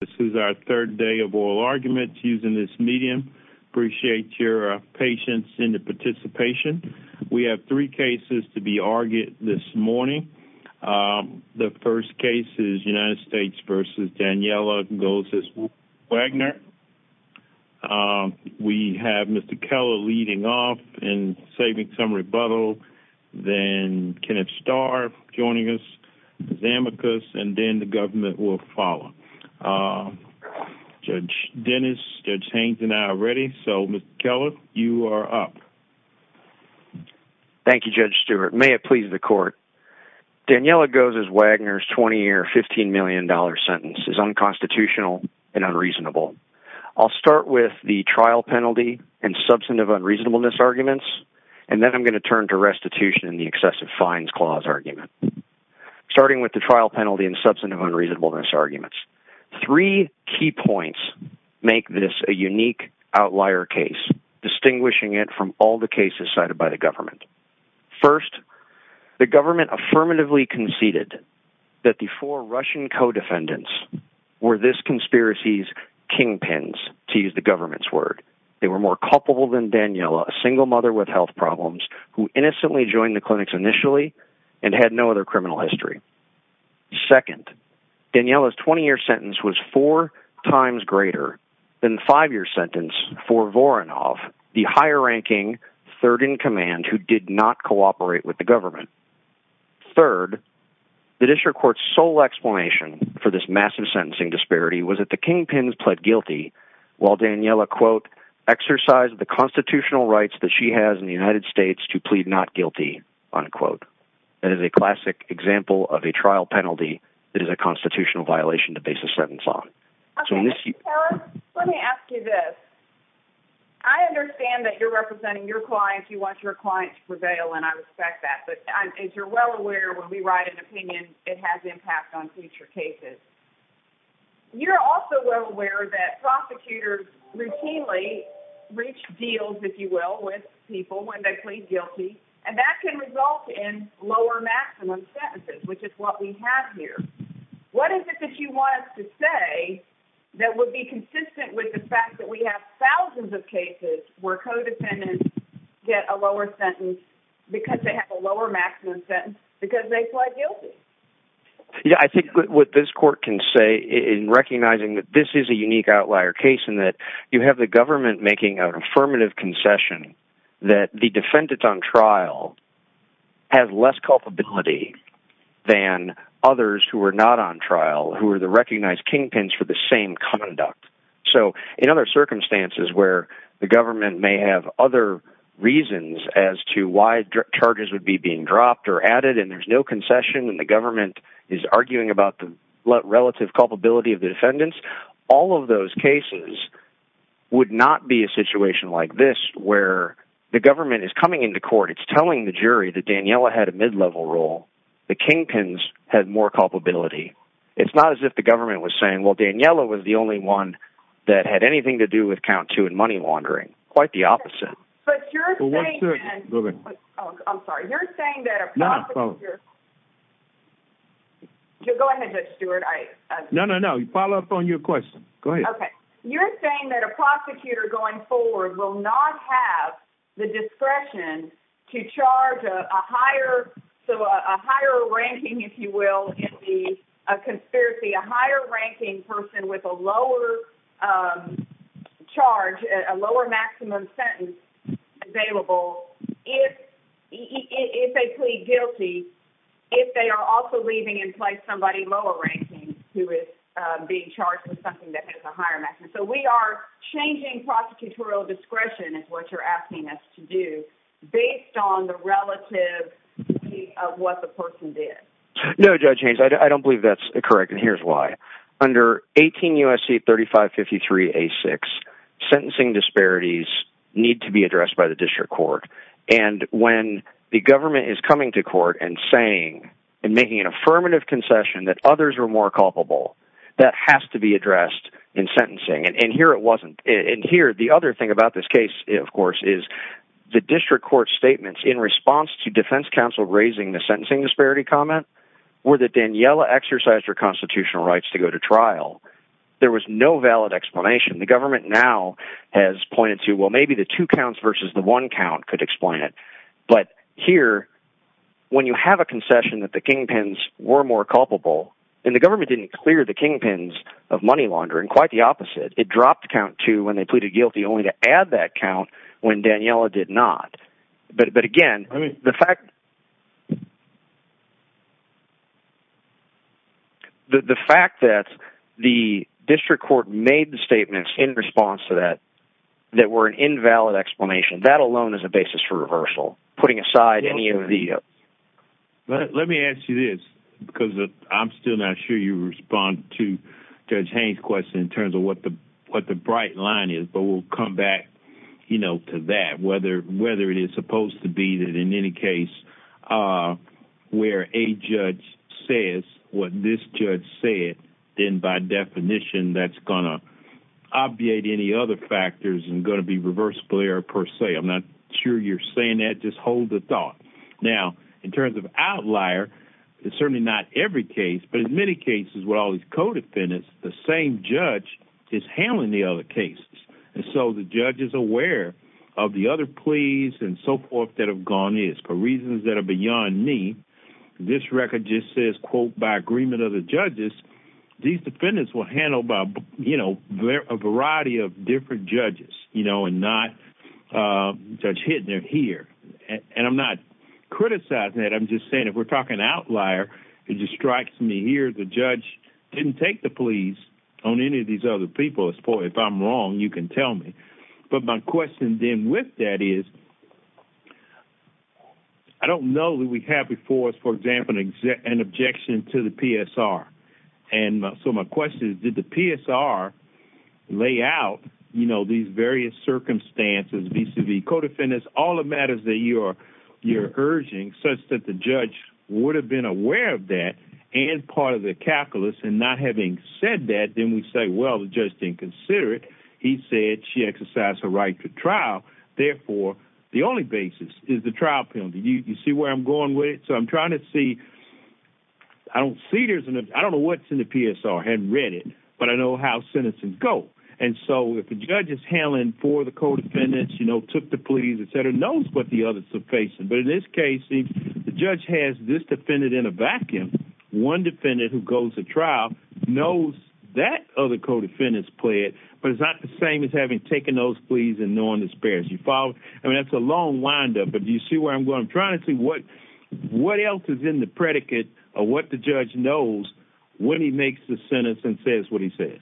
This is our third day of oral arguments using this medium. Appreciate your patience in the participation. We have three cases to be argued this morning. The first case is United States v. Daniela Gozes-Wagner. We have Mr. Keller leading off and saving some rebuttal, then Kenneth Starr joining us, Ms. Amicus, and then the government will follow. Judge Dennis, Judge Haines and I are ready, so Mr. Keller, you are up. Thank you, Judge Stewart. May it please the court, Daniela Gozes-Wagner's 20-year, $15 million sentence is unconstitutional and unreasonable. I'll start with the trial penalty and substantive unreasonableness arguments, and then I'm Starting with the trial penalty and substantive unreasonableness arguments, three key points make this a unique outlier case, distinguishing it from all the cases cited by the government. First, the government affirmatively conceded that the four Russian co-defendants were this conspiracy's kingpins, to use the government's word. They were more culpable than Daniela, a single mother with health problems who innocently joined the clinics initially and had no other criminal history. Second, Daniela's 20-year sentence was four times greater than the five-year sentence for Voronov, the higher-ranking third-in-command who did not cooperate with the government. Third, the district court's sole explanation for this massive sentencing disparity was that the kingpins pled guilty while Daniela, quote, exercised the constitutional rights that she has in the United States to plead not guilty, unquote. That is a classic example of a trial penalty that is a constitutional violation to base a sentence on. So in this- Okay. And Tara, let me ask you this. I understand that you're representing your client, you want your client to prevail, and I respect that. But as you're well aware, when we write an opinion, it has impact on future cases. You're also well aware that prosecutors routinely reach deals, if you will, with people when they plead guilty, and that can result in lower maximum sentences, which is what we have here. What is it that you want us to say that would be consistent with the fact that we have thousands of cases where co-defendants get a lower sentence because they have a lower maximum sentence because they pled guilty? Yeah, I think what this court can say in recognizing that this is a unique outlier case in that you have the government making an affirmative concession that the defendant on trial has less culpability than others who are not on trial, who are the recognized kingpins for the same conduct. So in other circumstances where the government may have other reasons as to why charges would be being dropped or added, and there's no concession, and the government is arguing about the relative culpability of the defendants, all of those cases would not be a situation like this where the government is coming into court, it's telling the jury that Daniella had a mid-level role. The kingpins had more culpability. It's not as if the government was saying, well, Daniella was the only one that had anything to do with count two and money laundering. Quite the opposite. But you're saying that a prosecutor... No, no, follow up. Go ahead, Judge Stewart. I... No, no, no. Follow up on your question. Go ahead. Okay. You're saying that a prosecutor going forward will not have the discretion to charge a higher, so a higher ranking, if you will, in the conspiracy, a higher ranking person with a lower charge, a lower maximum sentence available if they plead guilty, if they are also leaving in place somebody lower ranking who is being charged with something that has a higher maximum. So we are changing prosecutorial discretion is what you're asking us to do based on the relative of what the person did. No, Judge Haynes, I don't believe that's correct, and here's why. Under 18 U.S.C. 3553A6, sentencing disparities need to be addressed by the district court, and when the government is coming to court and saying, and making an affirmative concession that others are more culpable, that has to be addressed in sentencing, and here it wasn't. And here, the other thing about this case, of course, is the district court statements in response to defense counsel raising the sentencing disparity comment were that Daniella exercised her constitutional rights to go to trial. There was no valid explanation. The government now has pointed to, well, maybe the two counts versus the one count could explain it, but here, when you have a concession that the kingpins were more culpable, and the government didn't clear the kingpins of money laundering, quite the opposite. It dropped count two when they pleaded guilty, only to add that count when Daniella did not. But again, the fact that the district court made the statements in response to that, that were an invalid explanation, that alone is a basis for reversal, putting aside any of the... Let me ask you this, because I'm still not sure you respond to Judge Haynes' question in terms of what the bright line is, but we'll come back to that. Whether it is supposed to be that in any case where a judge says what this judge said, then by definition, that's going to obviate any other factors and going to be reverse glare per se. I'm not sure you're saying that. Just hold the thought. Now, in terms of Outlier, it's certainly not every case, but in many cases, with all these co-defendants, the same judge is handling the other cases, and so the judge is aware of the other pleas and so forth that have gone in. For reasons that are beyond me, this record just says, quote, by agreement of the judges, these defendants were handled by a variety of different judges, and not Judge Hittner here. And I'm not criticizing that. I'm just saying, if we're talking Outlier, it just strikes me here, the judge didn't take the pleas on any of these other people. If I'm wrong, you can tell me. But my question then with that is, I don't know that we have before us, for example, an objection to the PSR, and so my question is, did the PSR lay out these various circumstances, vis-a-vis co-defendants, all the matters that you're urging, such that the judge would have been aware of that, and part of the calculus, and not having said that, then we say, well, the judge didn't consider it. He said she exercised her right to trial. Therefore, the only basis is the trial penalty. You see where I'm going with it? So I'm trying to see, I don't see there's, I don't know what's in the PSR. I haven't read it, but I know how sentences go. And so if the judge is handling for the co-defendants, you know, took the pleas, et cetera, knows what the others are facing. But in this case, the judge has this defendant in a vacuum. One defendant who goes to trial knows that other co-defendants pled, but it's not the same as having taken those pleas and knowing the spares. You follow? I mean, that's a long windup, but do you see where I'm going? I'm trying to see what else is in the predicate of what the judge knows when he makes the sentence and says what he says.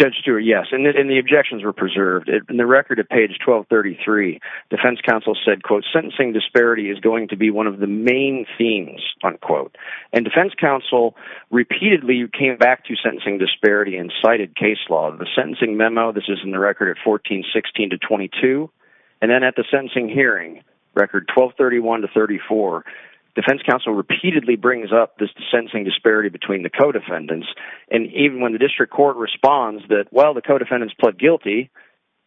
Judge Stewart, yes. And the objections were preserved. In the record at page 1233, defense counsel said, quote, sentencing disparity is going to be one of the main themes, unquote. And defense counsel repeatedly came back to sentencing disparity and cited case law. The sentencing memo, this is in the record at 1416 to 22. And then at the sentencing hearing, record 1231 to 34, defense counsel repeatedly brings up this sentencing disparity between the co-defendants. And even when the district court responds that, well, the co-defendants pled guilty,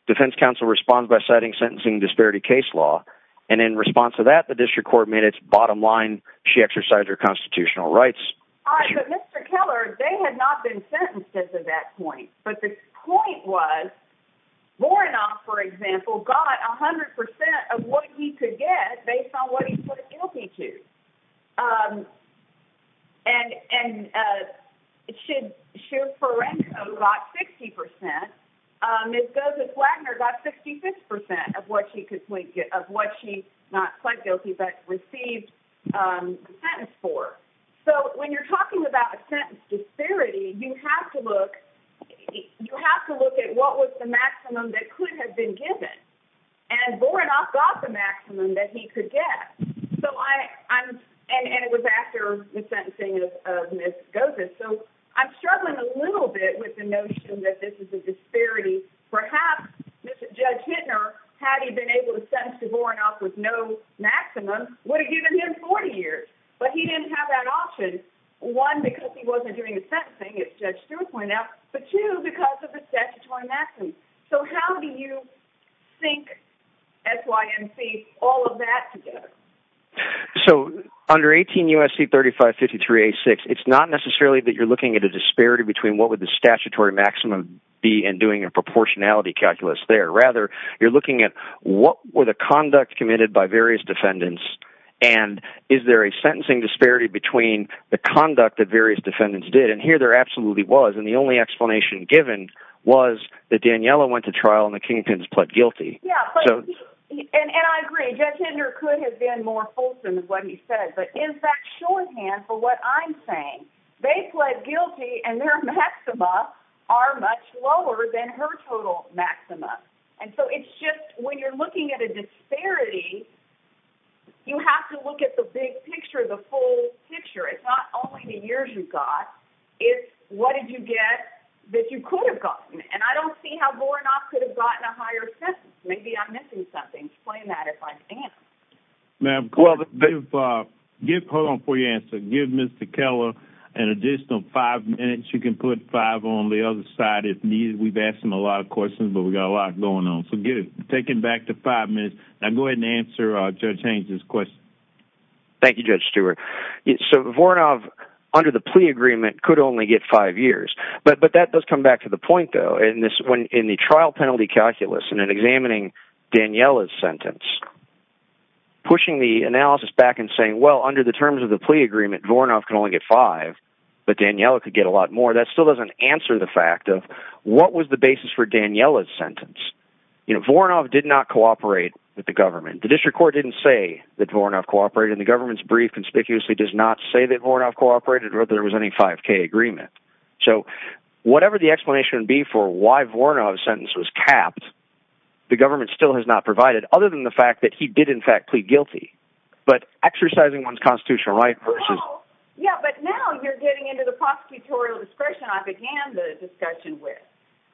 defense counsel responds by citing sentencing disparity case law. And in response to that, the district court made its bottom line. She exercised her constitutional rights. All right, but Mr. Keller, they had not been sentenced at that point. But the point was, Voronov, for example, got 100% of what he could get based on what he pled guilty to. And Shira Ferenko got 60%. Ms. Gossett-Wagner got 66% of what she pled guilty but received the sentence for. So when you're talking about a sentence disparity, you have to look at what was the maximum that could have been given. And Voronov got the maximum that he could get. And it was after the sentencing of Ms. Gossett. So I'm struggling a little bit with the notion that this is a disparity. Perhaps Judge Hittner, had he been able to sentence Voronov with no maximum, would have given him 40 years. But he didn't have that option, one, because he wasn't doing the sentencing, as Judge Stewart pointed out, but two, because of the statutory maximum. So how do you think, S-Y-N-C, all of that together? So under 18 U.S.C. 3553-86, it's not necessarily that you're looking at a disparity between what would the statutory maximum be and doing a proportionality calculus there. Rather, you're looking at what were the conduct committed by various defendants and is there a sentencing disparity between the conduct that various defendants did. And here there absolutely was. And the only explanation given was that Daniella went to trial and the Kingtons pled guilty. Yeah. And I agree. Judge Hittner could have been more fulsome with what he said. But is that shorthand for what I'm saying? They pled guilty and their maxima are much lower than her total maxima. And so it's just when you're looking at a disparity, you have to look at the big picture, the full picture. It's not only the years you got. It's what did you get that you could have gotten. And I don't see how more or not could have gotten a higher sentence. Maybe I'm missing something. Explain that if I can. Ma'am, hold on for your answer. Give Mr. Keller an additional five minutes. You can put five on the other side if needed. We've asked him a lot of questions, but we've got a lot going on. So take him back to five minutes. Now go ahead and answer Judge Haines' question. Thank you, Judge Stewart. So Voronov, under the plea agreement, could only get five years. But that does come back to the point, though, in the trial penalty calculus and in examining Daniella's sentence, pushing the analysis back and saying, well, under the terms of the plea agreement, Voronov can only get five, but Daniella could get a lot more. That still doesn't answer the fact of what was the basis for Daniella's sentence. Voronov did not cooperate with the government. The district court didn't say that Voronov cooperated. And the government's brief conspicuously does not say that Voronov cooperated or that there was any 5K agreement. So whatever the explanation be for why Voronov's sentence was capped, the government still has not provided, other than the fact that he did, in fact, plead guilty. But exercising one's constitutional right versus – Well, yeah, but now you're getting into the prosecutorial discretion I began the discussion with.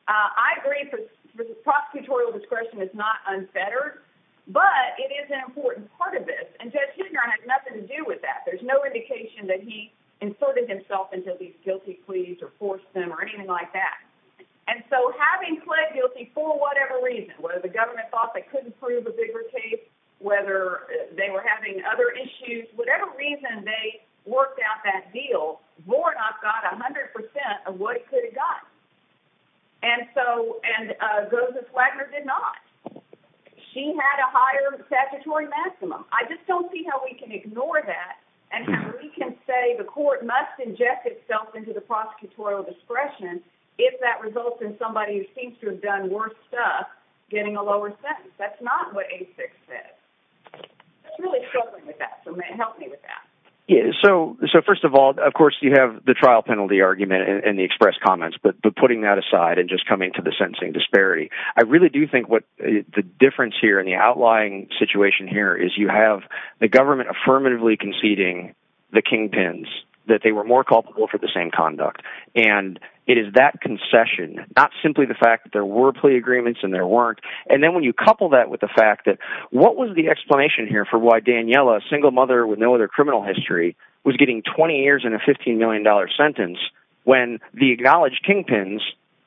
I agree that prosecutorial discretion is not unfettered, but it is an important part of this. And Judge Huebner had nothing to do with that. There's no indication that he inserted himself into these guilty pleas or forced them or anything like that. And so having pled guilty for whatever reason, whether the government thought they couldn't prove a bigger case, whether they were having other issues, whatever reason they worked out that deal, Voronov got 100% of what he could have gotten. And so – and Ghosis-Wagner did not. She had a higher statutory maximum. I just don't see how we can ignore that and how we can say the court must inject itself into the prosecutorial discretion if that results in somebody who seems to have done worse stuff getting a lower sentence. That's not what A6 said. I'm really struggling with that, so help me with that. So first of all, of course, you have the trial penalty argument and the express comments, but putting that aside and just coming to the sentencing disparity, I really do think what the difference here in the outlying situation here is you have the government affirmatively conceding the kingpins, that they were more culpable for the same conduct. And it is that concession, not simply the fact that there were plea agreements and there weren't. And then when you couple that with the fact that – what was the explanation here for why Daniella, a single mother with no other criminal history, was getting 20 years and a $15 million sentence when the acknowledged kingpins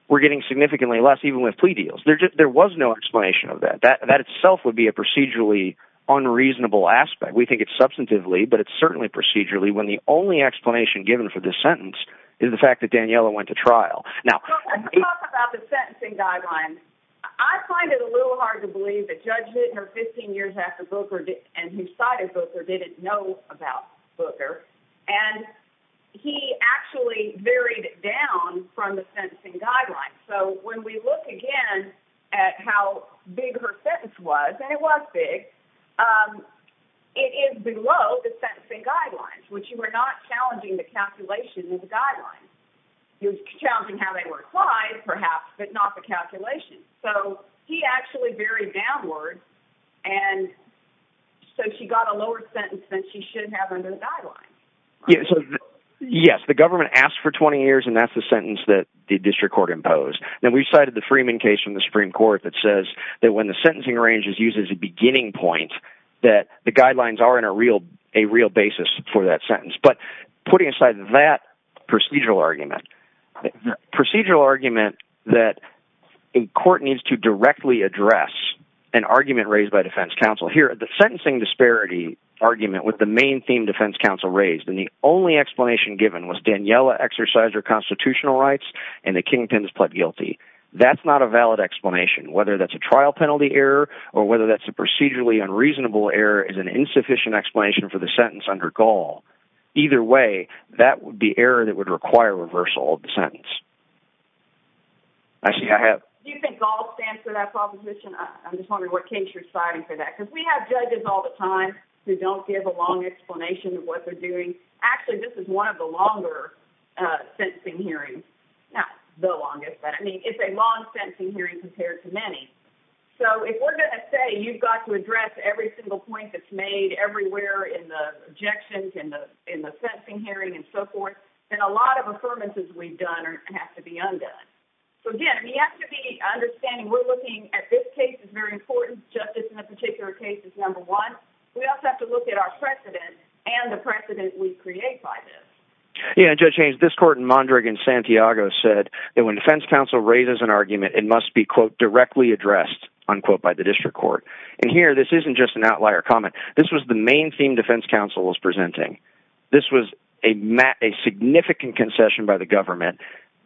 were getting significantly less even with plea deals? There was no explanation of that. That itself would be a procedurally unreasonable aspect. We think it's substantively, but it's certainly procedurally when the only explanation given for this sentence is the fact that Daniella went to trial. Now, let's talk about the sentencing guideline. I find it a little hard to believe that Judge Knitner, 15 years after Booker, and who cited Booker, didn't know about Booker, and he actually varied it down from the sentencing guideline. So when we look again at how big her sentence was, and it was big, it is below the sentencing guidelines, which you are not challenging the calculation of the guidelines. You're challenging how they were applied, perhaps, but not the calculation. So he actually varied downward, and so she got a lower sentence than she should have under the guidelines. Yes, the government asked for 20 years, and that's the sentence that the district court imposed. Then we cited the Freeman case from the Supreme Court that says that when the sentencing range is used as a beginning point, that the guidelines are in a real basis for that sentence. But putting aside that procedural argument, the procedural argument that a court needs to directly address an argument raised by defense counsel here, the sentencing disparity argument with the main theme defense counsel raised, and the only explanation given was Daniella exercised her constitutional rights and the Kingpins pled guilty. That's not a valid explanation, whether that's a trial penalty error or whether that's a procedurally unreasonable error is an insufficient explanation for the sentence under GAUL. Either way, that would be error that would require reversal of the sentence. Do you think GAUL stands for that proposition? I'm just wondering what case you're citing for that, because we have judges all the time who don't give a long explanation of what they're doing. Actually, this is one of the longer sentencing hearings. Not the longest, but it's a long sentencing hearing compared to many. If we're going to say you've got to address every single point that's made everywhere in the objections, in the sentencing hearing, and so forth, then a lot of affirmances we've done have to be undone. Again, you have to be understanding we're looking at this case as very important, justice in a particular case is number one. We also have to look at our precedent and the precedent we create by this. Judge Hayes, this court in Mondragon, Santiago, said that when defense counsel raises an argument, it must be, quote, directly addressed, unquote, by the district court. Here, this isn't just an outlier comment. This was the main theme defense counsel was presenting. This was a significant concession by the government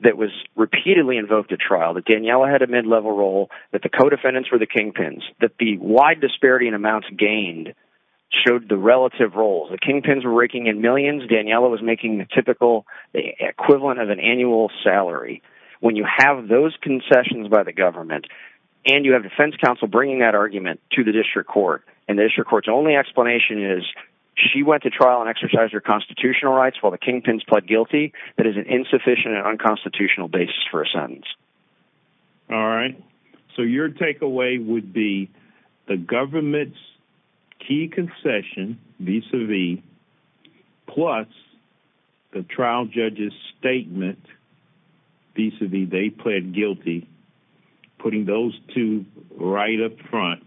that was repeatedly invoked at trial, that Daniella had a mid-level role, that the co-defendants were the kingpins, that the wide disparity in amounts gained showed the relative role. The kingpins were raking in millions. Daniella was making the typical equivalent of an annual salary. When you have those concessions by the government and you have defense counsel bringing that argument to the district court, and the district court's only explanation is she went to trial and exercised her constitutional rights while the kingpins pled guilty, that is an insufficient and unconstitutional basis for a sentence. All right. So your takeaway would be the government's key concession, vis-a-vis, plus the trial judge's statement, vis-a-vis they pled guilty, putting those two right up front,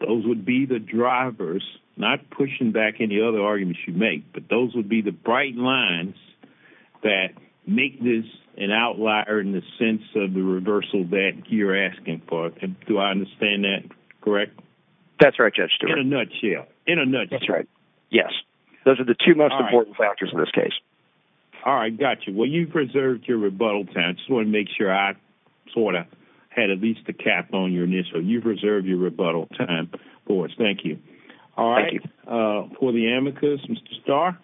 those would be the drivers, not pushing back any other arguments you make, but those would be the bright lines that make this an outlier in the sense of the reversal that you're asking for. Do I understand that correctly? That's right, Judge Stewart. In a nutshell. That's right. Yes. Those are the two most important factors in this case. All right. Got you. Well, you've reserved your rebuttal time, so I want to make sure I sort of had at least a cap on your initial. You've reserved your rebuttal time for us. Thank you. All right. Thank you. For the amicus, Mr. Starr?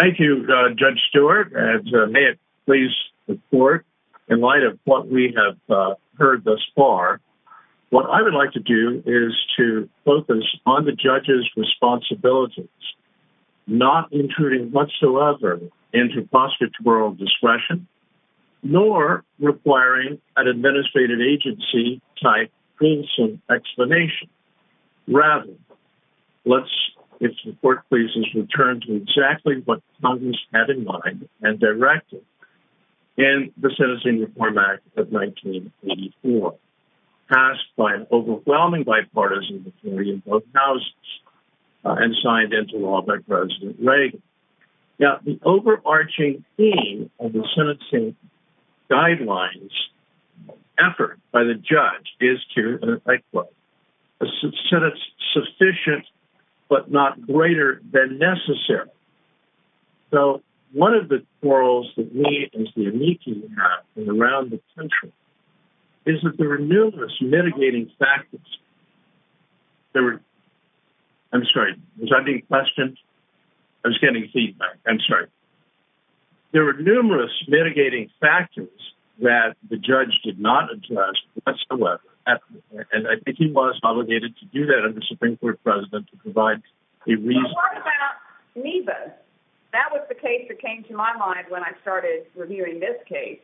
Thank you, Judge Stewart. And may it please the court, in light of what we have heard thus far, what I would like to do is to focus on the judge's responsibilities, not intruding whatsoever into prostitutorial discretion, nor requiring an administrative agency type, wholesome explanation. Rather, let's, if the court pleases, return to exactly what Congress had in mind and directed in the Sentencing Reform Act of 1984, passed by an overwhelming bipartisan majority in both houses and signed into law by President Reagan. Now, the overarching theme of the sentencing guidelines effort by the judge is to, I quote, a sentence sufficient but not greater than necessary. So one of the quarrels that we as the amicus have around the country is that there are numerous mitigating factors. There were, I'm sorry, was I being questioned? I was getting feedback. I'm sorry. There were numerous mitigating factors that the judge did not address whatsoever. And I think he was obligated to do that under the Supreme Court President to provide a reason. What about Neva? That was the case that came to my mind when I started reviewing this case.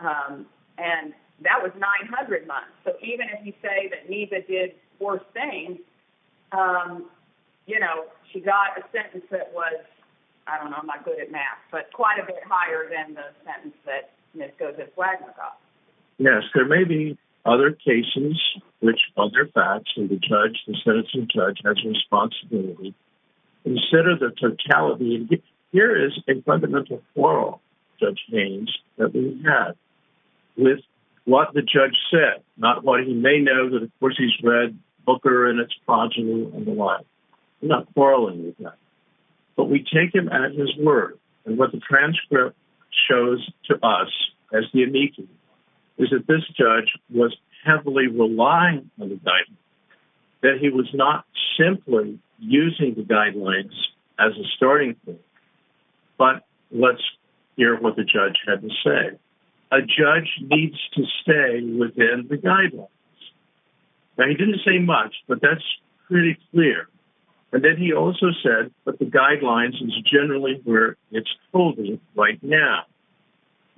And that was 900 months. So even if you say that Neva did four things, you know, she got a sentence that was, I don't know, I'm not good at math, but quite a bit higher than the sentence that Ms. Gozic-Wagner got. Yes. There may be other cases which other facts and the judge, the sentencing judge has responsibility. Instead of the totality, here is a fundamental quarrel, Judge Haynes, that we had with what the judge said, not what he may know that of course he's read Booker and its progeny and the like. I'm not quarreling with that, but we take him at his word and what the transcript shows to us as the meeting is that this judge was heavily relying on the guidance, that he was not simply using the guidelines as a starting point. But let's hear what the judge had to say. A judge needs to stay within the guidelines. Now he didn't say much, but that's pretty clear. And then he also said, but the guidelines is generally where it's holding right now.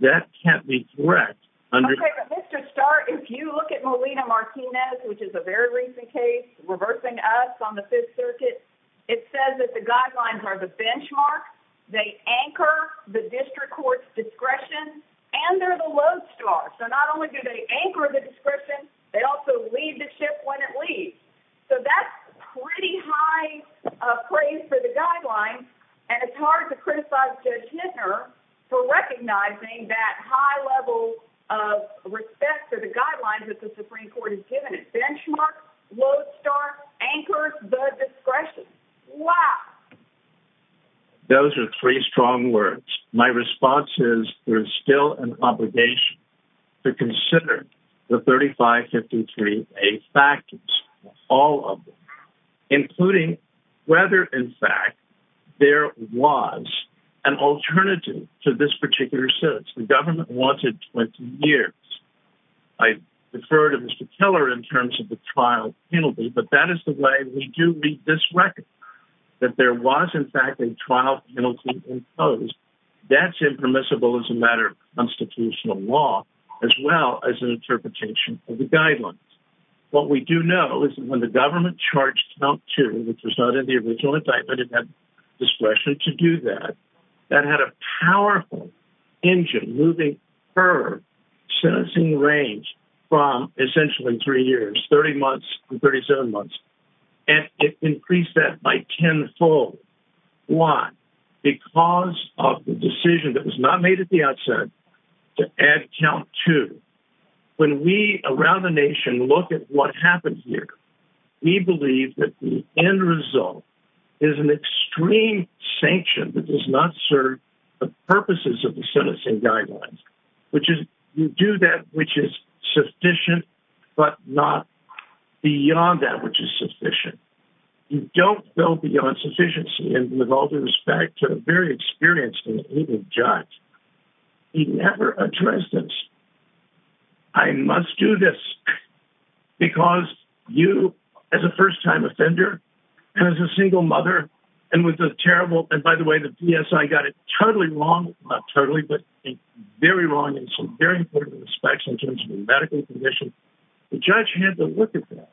That can't be correct. Okay, but Mr. Starr, if you look at Molina Martinez, which is a very recent case reversing us on the fifth circuit, it says that the guidelines are the benchmark. They anchor the district court's discretion and they're the lodestar. So not only do they anchor the description, they also lead the ship when it leaves. So that's pretty high praise for the guidelines. And it's hard to criticize for recognizing that high level of respect for the guidelines that the Supreme court has given it. Benchmark lodestar anchors the discretion. Wow. Those are three strong words. My response is there's still an obligation to consider the 35, 53, all of them, including whether in fact there was an alternative to this particular sentence. The government wanted 20 years. I refer to Mr. Keller in terms of the trial penalty, but that is the way we do read this record that there was in fact in trial penalty imposed. That's impermissible as a matter of constitutional law, as well as an interpretation of the guidelines. What we do know is that when the government charged count two, which was not in the original indictment, it had discretion to do that, that had a powerful engine moving her sentencing range from essentially three years, 30 months, 37 months. And it increased that by 10 fold. Why? Because of the decision that was not made at the outset to add count to When we around the nation look at what happened here, we believe that the end result is an extreme sanction that does not serve the purposes of the sentencing guidelines, which is you do that, which is sufficient, but not beyond that, which is sufficient. You don't go beyond sufficiency. And with all due respect to the very experienced judge, he never addressed this. I must do this because you, as a first time offender, as a single mother, and with the terrible, and by the way, the PSI got it totally wrong, not totally, but very wrong in some very important respects in terms of the medical condition. The judge had to look at that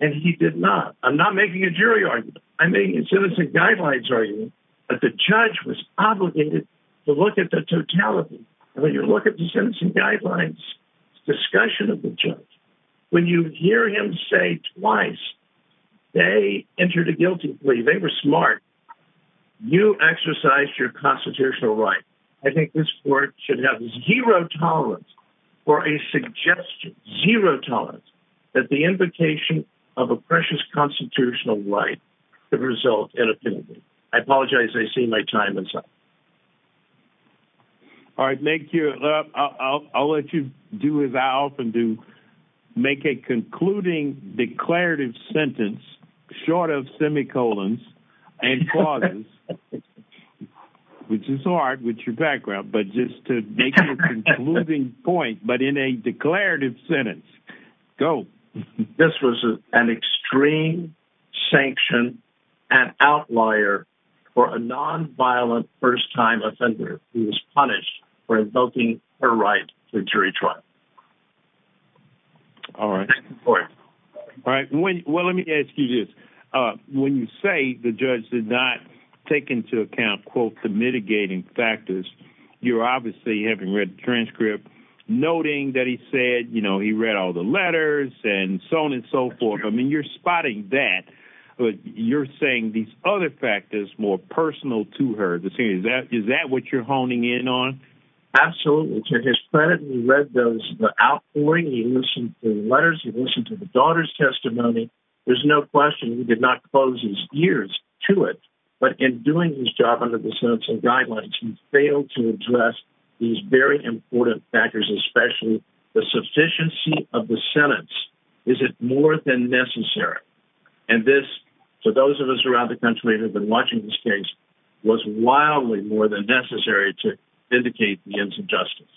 and he did not. I'm not making a jury argument. I'm making a sentencing guidelines argument, but the judge was obligated to look at the totality. When you look at the sentencing guidelines, discussion of the judge, when you hear him say twice, they entered a guilty plea. They were smart. You exercise your constitutional right. I think this court should have zero tolerance for a suggestion, zero tolerance that the invocation of a precious constitutional right to result in a penalty. I apologize. I see my time is up. All right. Thank you. I'll let you do as I often do make a concluding declarative sentence short of semicolons and clauses, which is hard with your background, but just to make a concluding point, but in a declarative sentence, go. This was an extreme sanction and outlier for a nonviolent first time offender who was punished for invoking her right to jury trial. All right. All right. Well, let me ask you this. When you say the judge did not take into account, quote, the mitigating factors, you're obviously having read the transcript noting that he said, you know, he read all the letters and so on and so forth. I mean, you're spotting that, but you're saying these other factors, more personal to her. The thing is that, is that what you're honing in on? Absolutely. To his credit. He read those, the outpouring. He listened to the letters. He listened to the daughter's testimony. There's no question. He did not close his ears to it, but in doing his job under the sentencing guidelines, he failed to address these very important factors, especially the sufficiency of the sentence. Is it more than necessary? And this, so those of us around the country that have been watching this case was wildly more than necessary to indicate the ends of justice.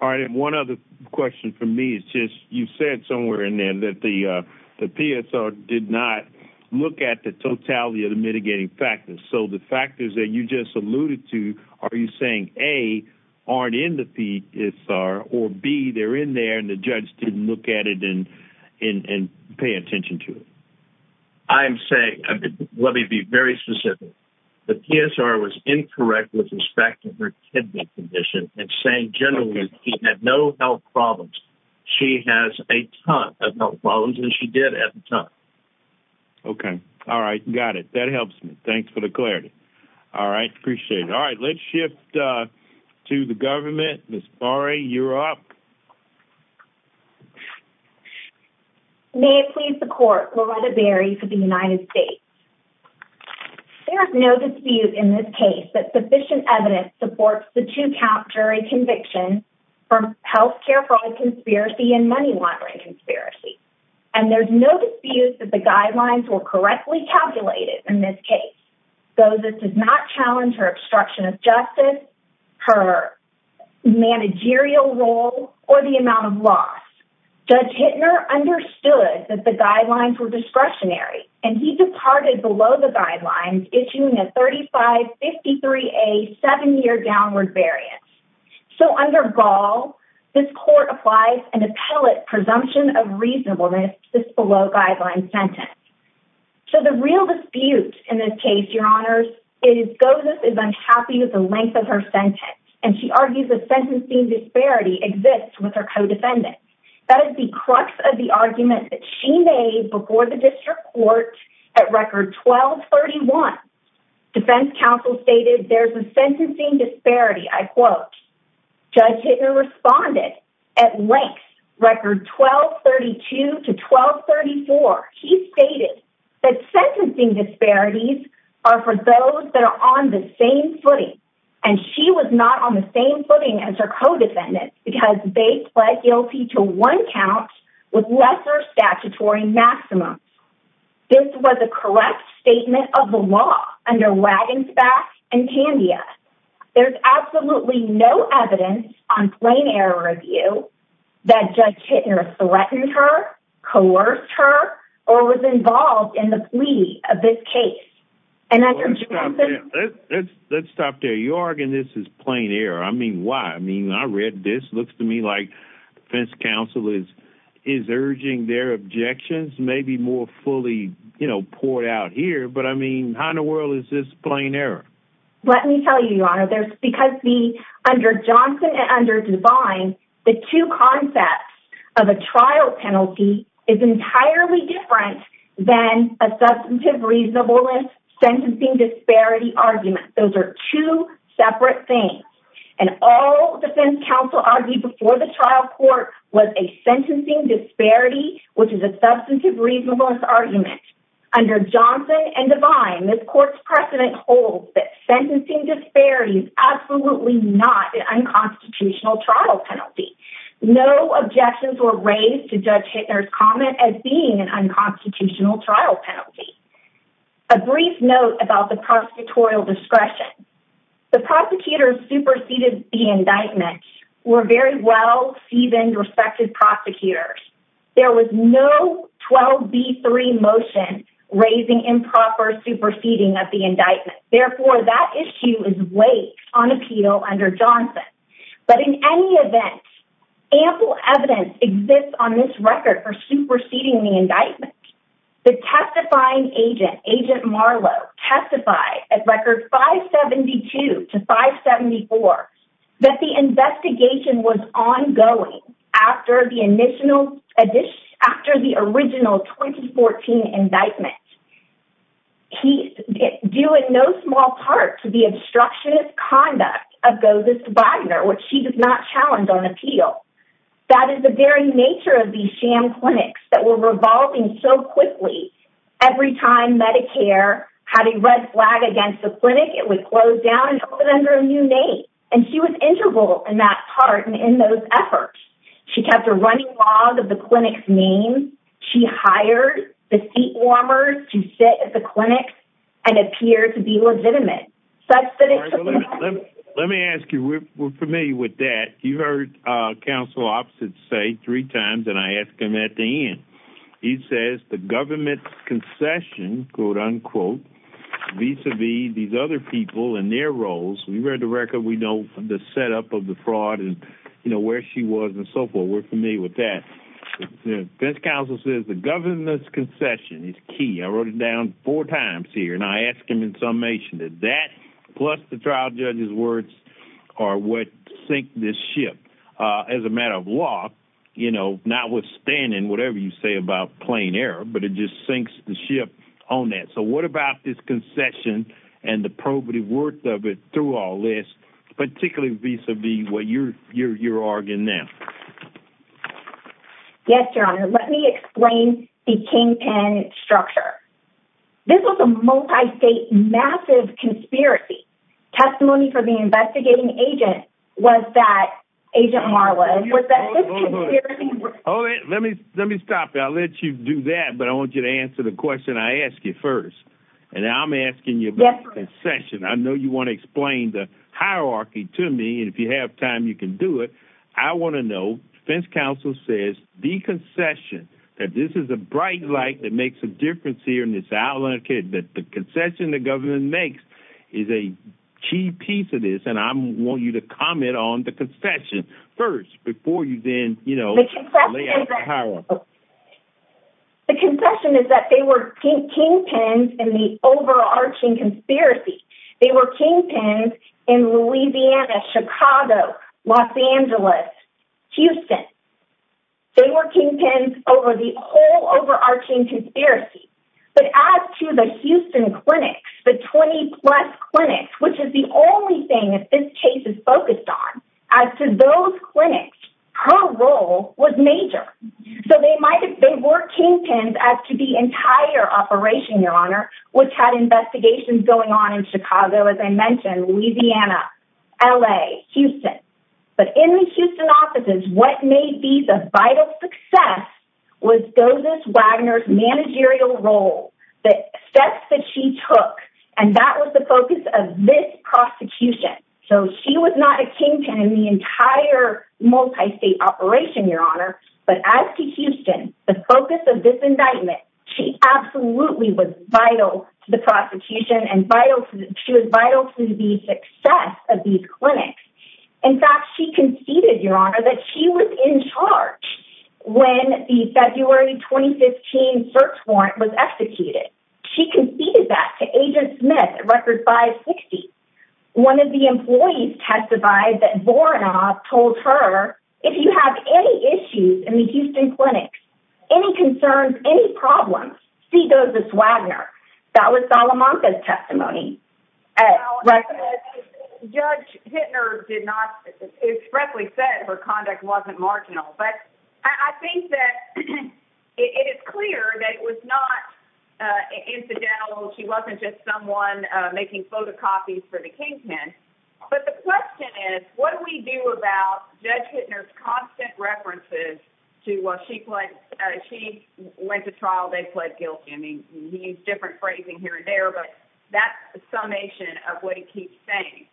All right. And one other question for me is just, you said somewhere in there that the PSR did not look at the totality of the mitigating factors. So the factors that you just alluded to, are you saying, A, aren't in the PSR, or B, they're in there and the judge didn't look at it and pay attention to it? I'm saying, let me be very specific. The PSR was incorrect with respect to her kidney condition and saying generally she had no health problems. She has a ton of health problems, and she did at the time. Okay. All right. Got it. That helps me. Thanks for the clarity. All right. Appreciate it. All right. Let's shift to the government. Ms. Barry, you're up. May it please the court, Loretta Berry for the United States. There is no dispute in this case that sufficient evidence supports the two count jury conviction for healthcare fraud conspiracy and money laundering conspiracy. And there's no dispute that the guidelines were correctly calculated in this case. Though this does not challenge her obstruction of justice, her managerial role, or the amount of loss. Judge Hittner understood that the guidelines were discretionary, and he departed below the guidelines, issuing a 3553A seven-year downward variance. So under Gaul, this court applies an appellate presumption of reasonableness, this below guideline sentence. So the real dispute in this case, your honors, is Ghosis is unhappy with the length of her sentence. And she argues the sentencing disparity exists with her co-defendant. That is the crux of the argument that she made before the district court at record 1231. Defense counsel stated there's a sentencing disparity. I quote, Judge Hittner responded at length record 1232 to 1234. He stated that sentencing disparities are for those that are on the same footing. And she was not on the same footing as her co-defendants because they pled guilty to one count with lesser statutory maximum. This was a correct statement of the law under wagons back and Candia. There's absolutely no evidence on plain error review that judge Hittner threatened her, coerced her, or was involved in the plea of this case. And under Johnson. Let's stop there. You're arguing this is plain air. I mean, why? I mean, I read this looks to me like fence. Counsel is, is urging their objections. Maybe more fully, you know, poured out here, but I mean, how in the world is this plain error? Let me tell you, your honor. Under Johnson and under divine, the two concepts of a trial penalty is entirely different than a substantive reasonableness sentencing disparity argument. Those are two separate things. And all defense counsel argued before the trial court was a sentencing disparity, which is a substantive reasonableness argument. Under Johnson and divine this court's precedent holds that sentencing disparity is absolutely not an unconstitutional trial penalty. No objections were raised to judge Hittner's comment as being an unconstitutional trial penalty, a brief note about the prosecutorial discretion. The prosecutors superseded the indictments were very well seasoned, respected prosecutors. There was no 12 B three motion raising improper superseding of the indictment. Therefore that issue is way on appeal under Johnson, but in any event, ample evidence exists on this record for superseding the indictment. The testifying agent agent, Marlo testified at record five 72 to five 74, that the investigation was ongoing after the initial edition, after the original 2014 indictment, he do it. No small part to the obstructionist conduct of go this Wagner, which she did not challenge on appeal. That is the very nature of these sham clinics that were revolving so quickly. Every time Medicare had a red flag against the clinic, it would close down and open under a new name. And she was integral in that part. And in those efforts, she kept a running log of the clinic's name. She hired the seat warmer to sit at the clinic and appear to be legitimate. Let me ask you, we're familiar with that. You've heard a council opposite say three times. And I asked him at the end, he says the government's concession, quote unquote, vis-a-vis these other people in their roles. We read the record. We know the setup of the fraud is, you know, where she was and so forth. We're familiar with that. This council says the government's concession is key. I wrote it down four times here. And I asked him in summation that that plus the trial judge's words are what sink this ship, uh, as a matter of law, you know, not withstanding whatever you say about plain error, but it just sinks the ship on that. So what about this concession and the probative worth of it through all this, particularly vis-a-vis what you're, you're, you're arguing now. Yes, your honor. Let me explain the King pin structure. This was a multi-state massive conspiracy testimony for the investigating agent. Was that agent Marla? Oh, let me, let me stop. I'll let you do that, but I want you to answer the question I asked you first. And I'm asking you about concession. I know you want to explain the hierarchy to me. And if you have time, you can do it. I want to know fence council says the concession that this is a bright light that makes a difference here in this outlet kid that the concession the government makes is a key piece of this. And I want you to comment on the concession first before you then, you know, The concession is that they were King pins and the overarching conspiracy. They were King pins in Louisiana, Chicago, Los Angeles, Houston. They were King pins over the whole overarching conspiracy, but as to the Houston clinics, the 20 plus clinics, which is the only thing that this case is focused on as to those clinics, her role was major. So they might've been working pins as to the entire operation, your honor, which had investigations going on in Chicago. As I mentioned, Louisiana, LA Houston, but in the Houston offices, what may be the vital success was those as Wagner's managerial role, the steps that she took. And that was the focus of this prosecution. So she was not a King pin in the entire multi-state operation, your honor, but as to Houston, the focus of this indictment, she absolutely was vital to the prosecution and vital. She was vital to the success of these clinics. In fact, she conceded your honor that she was in charge when the February 2015 search warrant was executed. She conceded that to agent Smith records by 60. One of the employees testified that Voronov told her, if you have any issues in the Houston clinics, any concerns, any problems, she does this Wagner that was Solomon's testimony. Judge Hittner did not expressly said her conduct wasn't marginal, but I think that it is clear that it was not incidental. She wasn't just someone making photocopies for the King pin, but the question is, what do we do about judge Hittner's constant references to what she went to trial? They pled guilty. I mean, he used different phrasing here and there, but that's the summation of what he keeps saying.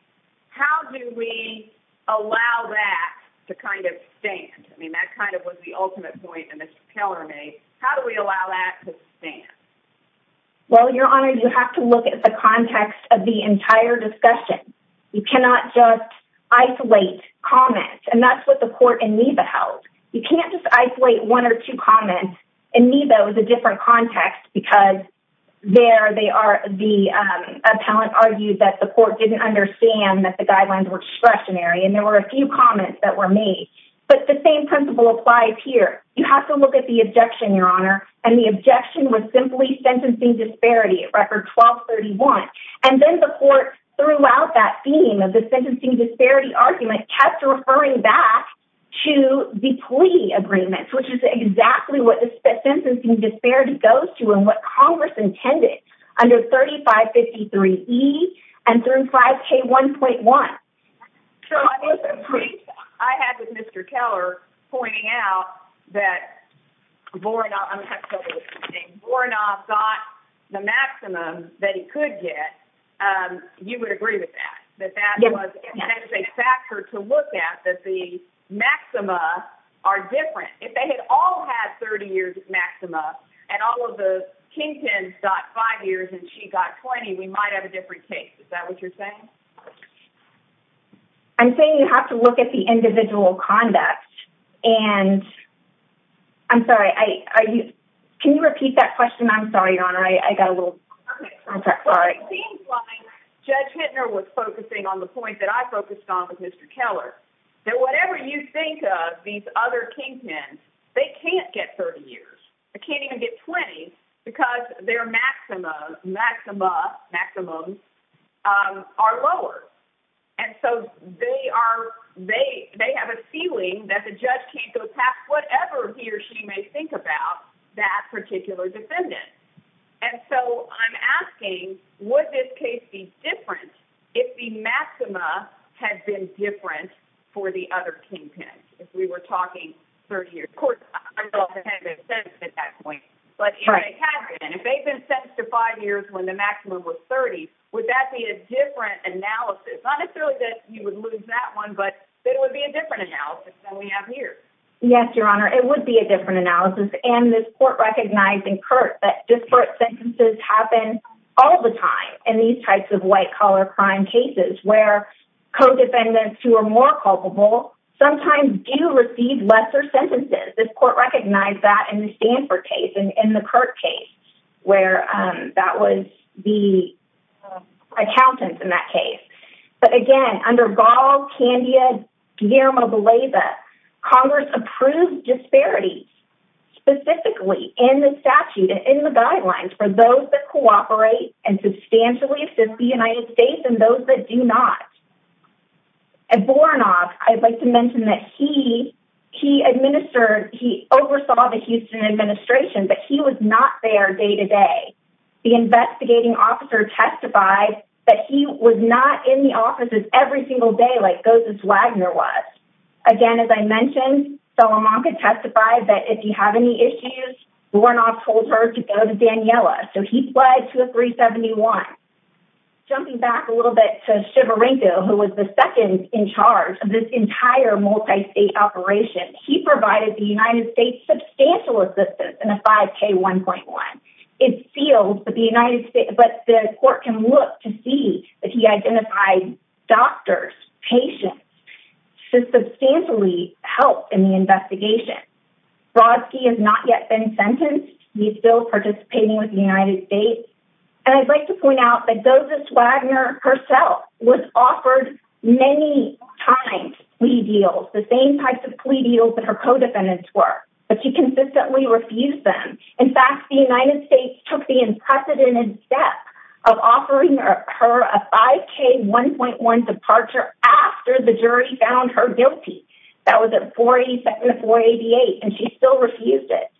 How do we allow that to kind of stand? I mean, that kind of was the ultimate point. And this teller may, how do we allow that to stand? Well, your honor, you have to look at the context of the entire discussion. You cannot just isolate comments and that's what the court in Niva held. You can't just isolate one or two comments in Niva. It was a different context because there they are. The appellant argued that the court didn't understand that the guidelines were discretionary. And there were a few comments that were made, but the same principle applies here. You have to look at the objection, your honor. And the objection was simply sentencing disparity record 1231. And then the court throughout that theme of the sentencing disparity argument kept referring back to the plea agreements, which is exactly what the sentencing disparity goes to and what Congress intended under 35 53 E and 35 K 1.1. I had with Mr. Keller pointing out that Voronov got the maximum that he could get. You would agree with that, that that was a factor to look at that the maxima are different. If they had all had 30 years maximum and all of the kingpins got five years and she got 20, we might have a different case. Is that what you're saying? I'm saying you have to look at the individual conduct and I'm sorry. I, are you, can you repeat that question? I'm sorry, your honor. I got a little, I'm sorry. Judge Hintner was focusing on the point that I focused on with Mr. Keller, that whatever you think of these other kingpins, they can't get 30 years. I can't even get 20 because their maxima maxima maximums are lower. And so they are, they have a feeling that the judge can't go past whatever he or she may think about that particular defendant. And so I'm asking what this case be different. If the maxima had been different for the other kingpins, if we were talking 30 years, of course, but if they've been sentenced to five years when the maximum was 30, would that be a different analysis? Not necessarily that you would lose that one, but it would be a different analysis than we have here. Yes, your honor. It would be a different analysis. And this court recognized in Kurt that disparate sentences happen all the time. And these types of white collar crime cases, where co-defendants who are more culpable sometimes do receive lesser sentences. This court recognized that in the Stanford case and in the court case where that was the accountants in that case. But again, under golf Candia Guillermo, the laser Congress approved disparities specifically in the statute and in the guidelines for those that cooperate and substantially assist the United States and those that do not. I'd like to mention that he, he administered, he oversaw the Houston administration, but he was not there day to day. The investigating officer testified that he was not in the offices every single day. Like those, this Wagner was again, as I mentioned, so a mom could testify that if you have any issues, we're not told her to go to Daniela. So he fled to a three 71, jumping back a little bit to shiver, who was the second in charge of this entire multi-state operation. He provided the United States substantial assistance and a five K 1.1 it deals, but the United States, but the court can look to see if he identified doctors, patients to substantially help in the investigation. Roski has not yet been sentenced. He's still participating with the United States. And I'd like to point out that does this Wagner herself was offered many times. We deal the same types of plea deals that her co-defendants were, but she consistently refused them. In fact, the United States took the unprecedented step of offering her a five K 1.1 departure after the jury found her guilty. That was at 40 seconds before 88 and she still refused it.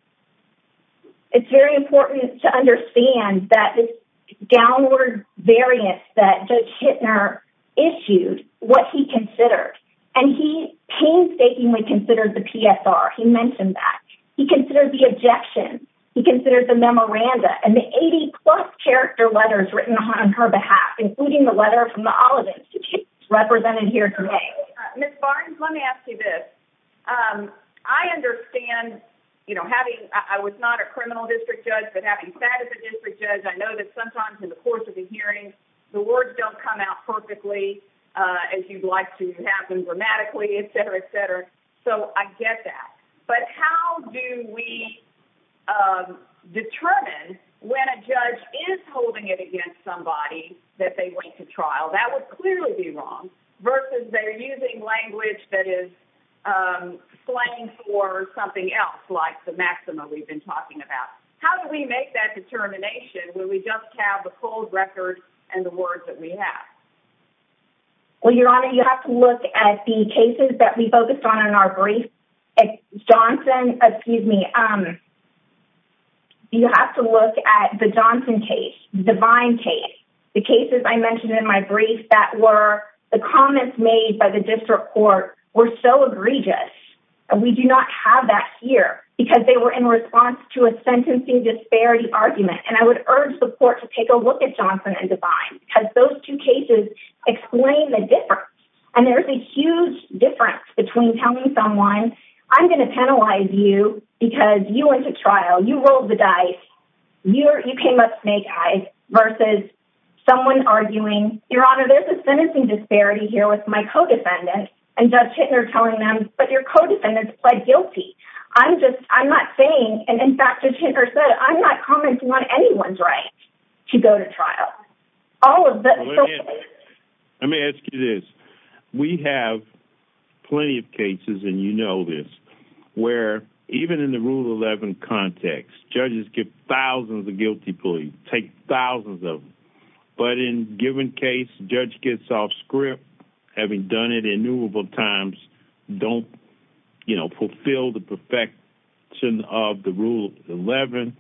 It's very important to understand that this downward variance that judge Hittner issued what he considered and he painstakingly considered the PSR. He mentioned that he considered the objection. He considered the memoranda and the 80 plus character letters written on her behalf, including the letter from the olive Institute represented here today. Ms. Barnes, let me ask you this. I understand, you know, having, I was not a criminal district judge, but having sat at the district judge, I know that sometimes in the course of the hearing, the words don't come out perfectly as you'd like to happen dramatically, et cetera, et cetera. So I get that, but how do we determine when a judge is holding it against somebody that they went to trial, that would clearly be wrong versus they're using language that is slain for something else like the maximum we've been talking about. How do we make that determination where we just have the cold record and the words that we have? Well, your honor, you have to look at the cases that we focused on in our brief. Johnson, excuse me. Um, you have to look at the Johnson case, the divine case, the cases I mentioned in my brief that were the comments made by the district court were so egregious. And we do not have that here because they were in response to a sentencing disparity argument. And I would urge the court to take a look at Johnson and divine because those two cases explain the difference. And there's a huge difference between telling someone I'm going to penalize you because you went to trial, you rolled the dice, you came up snake eyes versus someone arguing your honor, there's a sentencing disparity here with my co-defendant and judge hitting her, telling them, but your co-defendants pled guilty. I'm just, I'm not saying. And in fact, I'm not commenting on anyone's right to go to trial. All of that. Let me ask you this. We have plenty of cases and you know, this where even in the rule 11 context, judges get thousands of guilty police take thousands of, but in given case, judge gets off script. Having done it innumerable times don't, you know, fulfill the perfection of the rule 11.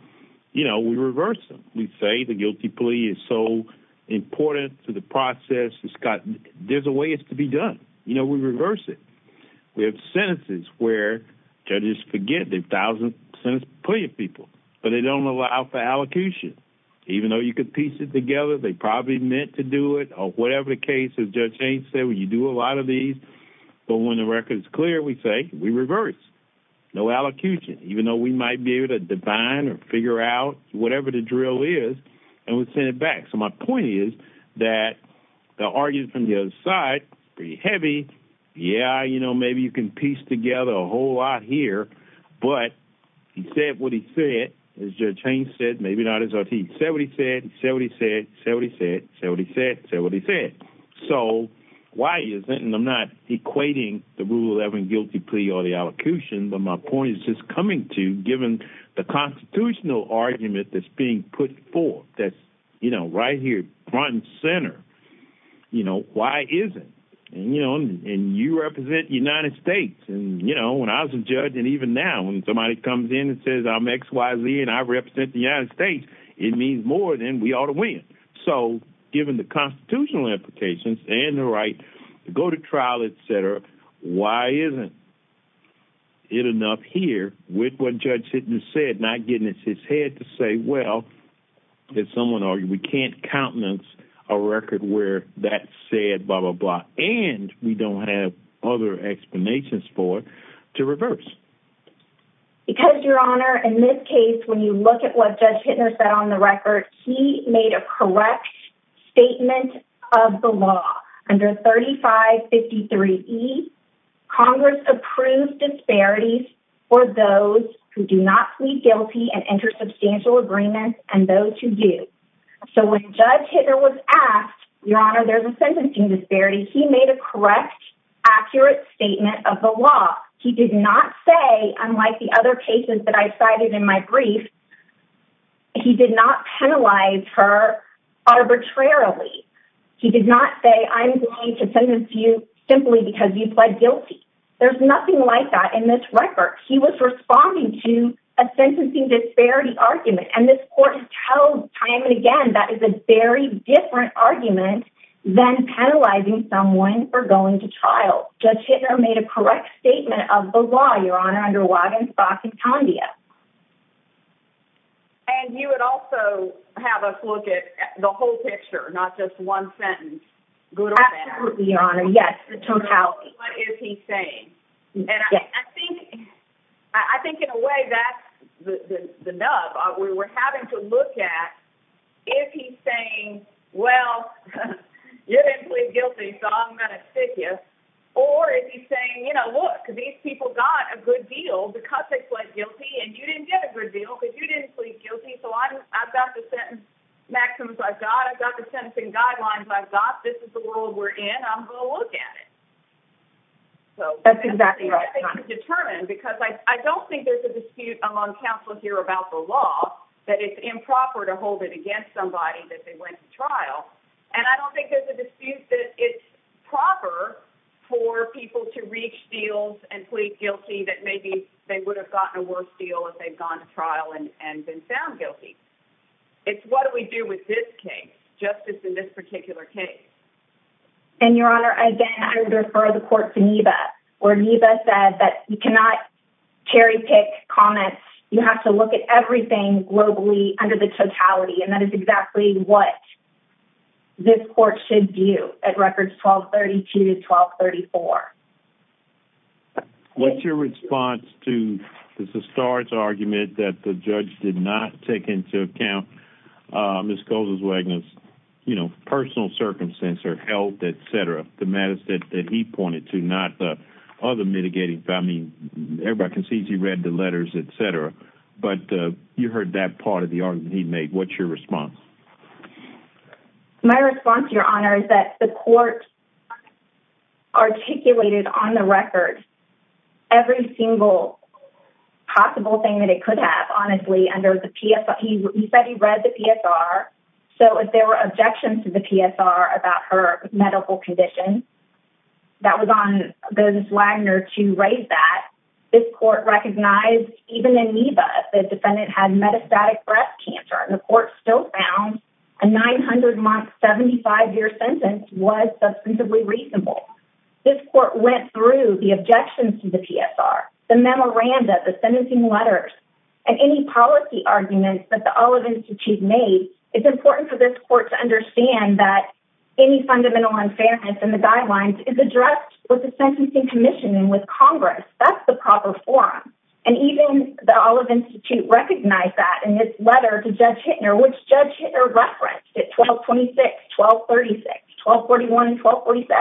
You know, we reverse them. We say the guilty plea is so important to the process. It's got, there's a way it's to be done. You know, we reverse it. We have sentences where judges forget the thousand cents, plenty of people, but they don't allow for allocution, even though you could piece it together. They probably meant to do it or whatever the case is, judge ain't say when you do a lot of these, but when the record is clear, we say we reverse no allocution, even though we might be able to define or figure out whatever the drill is. And we send it back. So my point is that the argument from the other side, pretty heavy. Yeah. You know, maybe you can piece together a whole lot here, but he said what he said is your chain said, maybe not as he said, what he said, said, what he said, said, what he said, said, what he said. So why is it? And I'm not equating the rule 11 guilty plea or the allocution, but my point is just coming to given the constitutional argument that's being put forth, that's, you know, right here, front and center, you know, why is it? And you know, and you represent United States and you know, when I was a judge and even now when somebody comes in and says, I'm XYZ and I represent the United States, it means more than we ought to win. So given the constitutional implications and the right to go to trial, et cetera, why isn't it enough here with what judge said, not getting his head to say, well, did someone argue we can't countenance a record where that said, blah, blah, blah. And we don't have other explanations for it to reverse. Because your honor, in this case, when you look at what judge Hittner said on the record, he made a correct statement of the law under 35, 53 E Congress approved disparities for those who do not plead guilty and enter substantial agreements and those who do. So when judge Hittner was asked, your honor, there's a sentencing disparity. He made a correct accurate statement of the law. He did not say unlike the other cases that I cited in my brief, he did not penalize her arbitrarily. He did not say I'm going to send this to you simply because you pled guilty. There's nothing like that in this record. He was responding to a sentencing disparity argument. And this court has told time and again, that is a very different argument than penalizing someone for going to trial. Judge Hittner made a correct statement of the law, your honor under Wagenstock and Condia. And you would also have us look at the whole picture, not just one sentence good or bad. Yes. What is he saying? And I think, I think in a way that's the nub we were having to look at if he's saying, well, you didn't plead guilty, so I'm going to stick you or if he's saying, you know, look these people got a good deal because they pled guilty and you didn't get a good deal because you didn't plead guilty. So I've got the sentence maximums. I've got, I've got the sentencing guidelines. I've got, this is the world we're in. I'm going to look at it. So that's exactly right. Determine, because I don't think there's a dispute among counselors here about the law that it's improper to hold it against somebody that they went to trial. And I don't think there's a dispute that it's proper for people to reach deals and plead guilty that maybe they would have gotten a worse deal if they'd gone to trial and been found guilty. It's what do we do with this case justice in this particular case? And your honor, I again, I would refer the court to Niva or Niva said that you cannot cherry pick comments. You have to look at everything globally under the totality and that is exactly what this court should do at records 1232 to 1234. What's your response to the stars argument that the judge did not take into account, uh, Ms. Coles is wagons, you know, personal circumstance or health, et cetera. The matters that he pointed to not the other mitigating family. Everybody can see he read the letters, et cetera. But, uh, you heard that part of the argument he'd made. What's your response? My response to your honor is that the court articulated on the record, every single possible thing that it could have, honestly, under the PS. He said he read the PSR. So if there were objections to the PSR about her medical condition, that was on the Wagner to raise that this court recognized even in Niva, the defendant had metastatic breast cancer and the court still found a 900 month, 75 year sentence was reasonably reasonable. This court went through the objections to the PSR, the memoranda, the sentencing letters and any policy arguments that the olive Institute made. It's important for this court to understand that any fundamental unfairness and the guidelines is addressed with the sentencing commission and with Congress. That's the proper forum. And even the olive Institute recognized that in this letter to judge or referenced at 12, 26, 12, 36, 12, 41, 12, 47,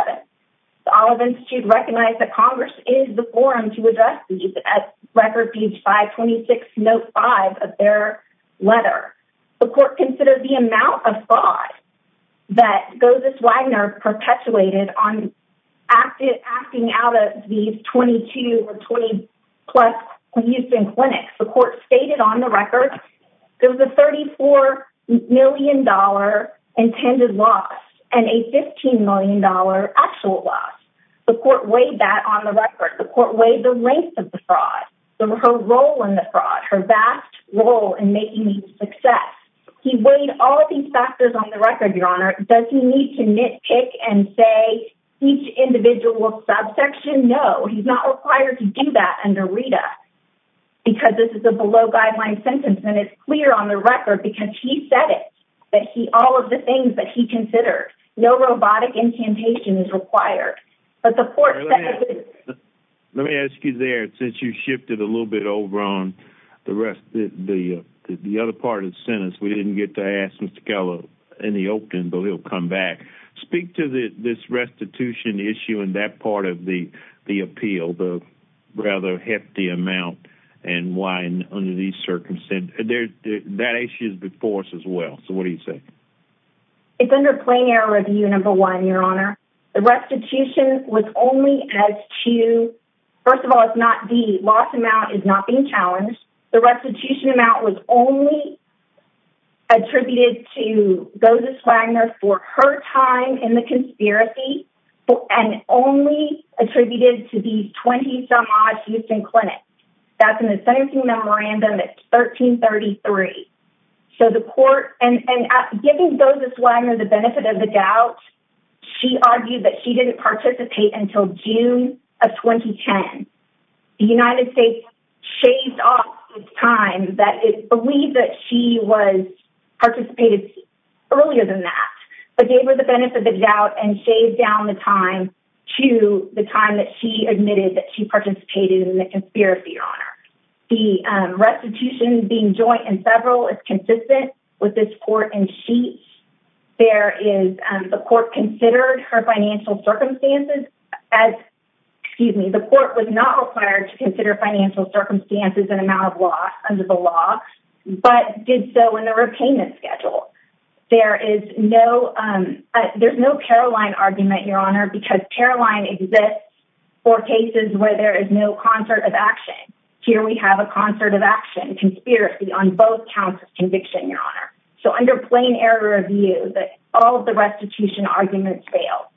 the olive Institute recognized that Congress is the forum to address the record. These five 26 note five of their letter, the court considered the amount of thought that goes this Wagner perpetuated on active acting out of these 22 or 20 plus minutes. The court stated on the record, there was a $34 million intended loss and a $15 million actual loss. The court weighed that on the record. The court weighed the length of the fraud, the role in the fraud, her vast role in making these success. He weighed all of these factors on the record. Your honor doesn't need to nitpick and say each individual subsection. No, he's not required to do that under Rita because this is a below guideline sentence. And it's clear on the record because he said it, but he, all of the things that he considered, no robotic incantation is required, but the court. Let me ask you there, since you shifted a little bit over on the rest, the other part of the sentence, we didn't get to ask Mr. Keller in the open, but he'll come back, but speak to the, this restitution issue in that part of the, the appeal, the rather hefty amount and wine under these circumstances. There's that issue is before us as well. So what do you say? It's under plain air review number one, your honor, the restitution was only as to, first of all, it's not the loss amount is not being challenged. The restitution amount was only attributed to go to Swagner for her time in the conspiracy. And only attributed to these 20 some odd Houston clinics. That's an incentive to memorandum at 1333. So the court and giving those as well, I know the benefit of the doubt. She argued that she didn't participate until June of 2010, the United States shaved off time that it believed that she was participated earlier than that, but gave her the benefit of the doubt and shaved down the time to the time that she admitted that she participated in the conspiracy. Your honor, the restitution being joint and several is consistent with this court. And she, there is the court considered her financial circumstances as, excuse me, the court was not required to consider financial circumstances and amount of loss under the law, but did so in the repayment schedule. There is no there's no Caroline argument, your honor, because Caroline exists for cases where there is no concert of action here. We have a concert of action conspiracy on both counts of conviction, your honor. So under plain error of view that all of the restitution arguments fail,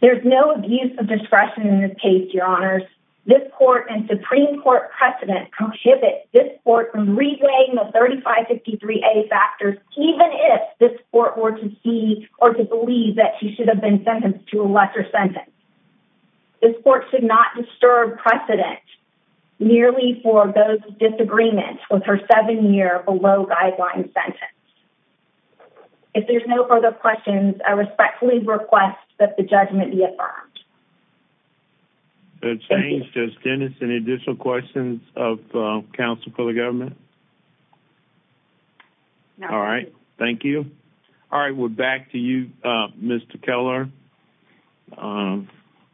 there's no use of discretion in this case. This court and Supreme court precedent prohibit this court from replaying the 35, 53 a factors, even if this court were to see or to believe that she should have been sentenced to a lesser sentence. This court should not disturb precedent nearly for those disagreements with her seven year below guideline sentence. If there's no further questions, I respectfully request that the judgment be affirmed. Good change. Just Dennis. Any additional questions of council for the government? All right. Thank you. All right. We're back to you, Mr. Keller. Um,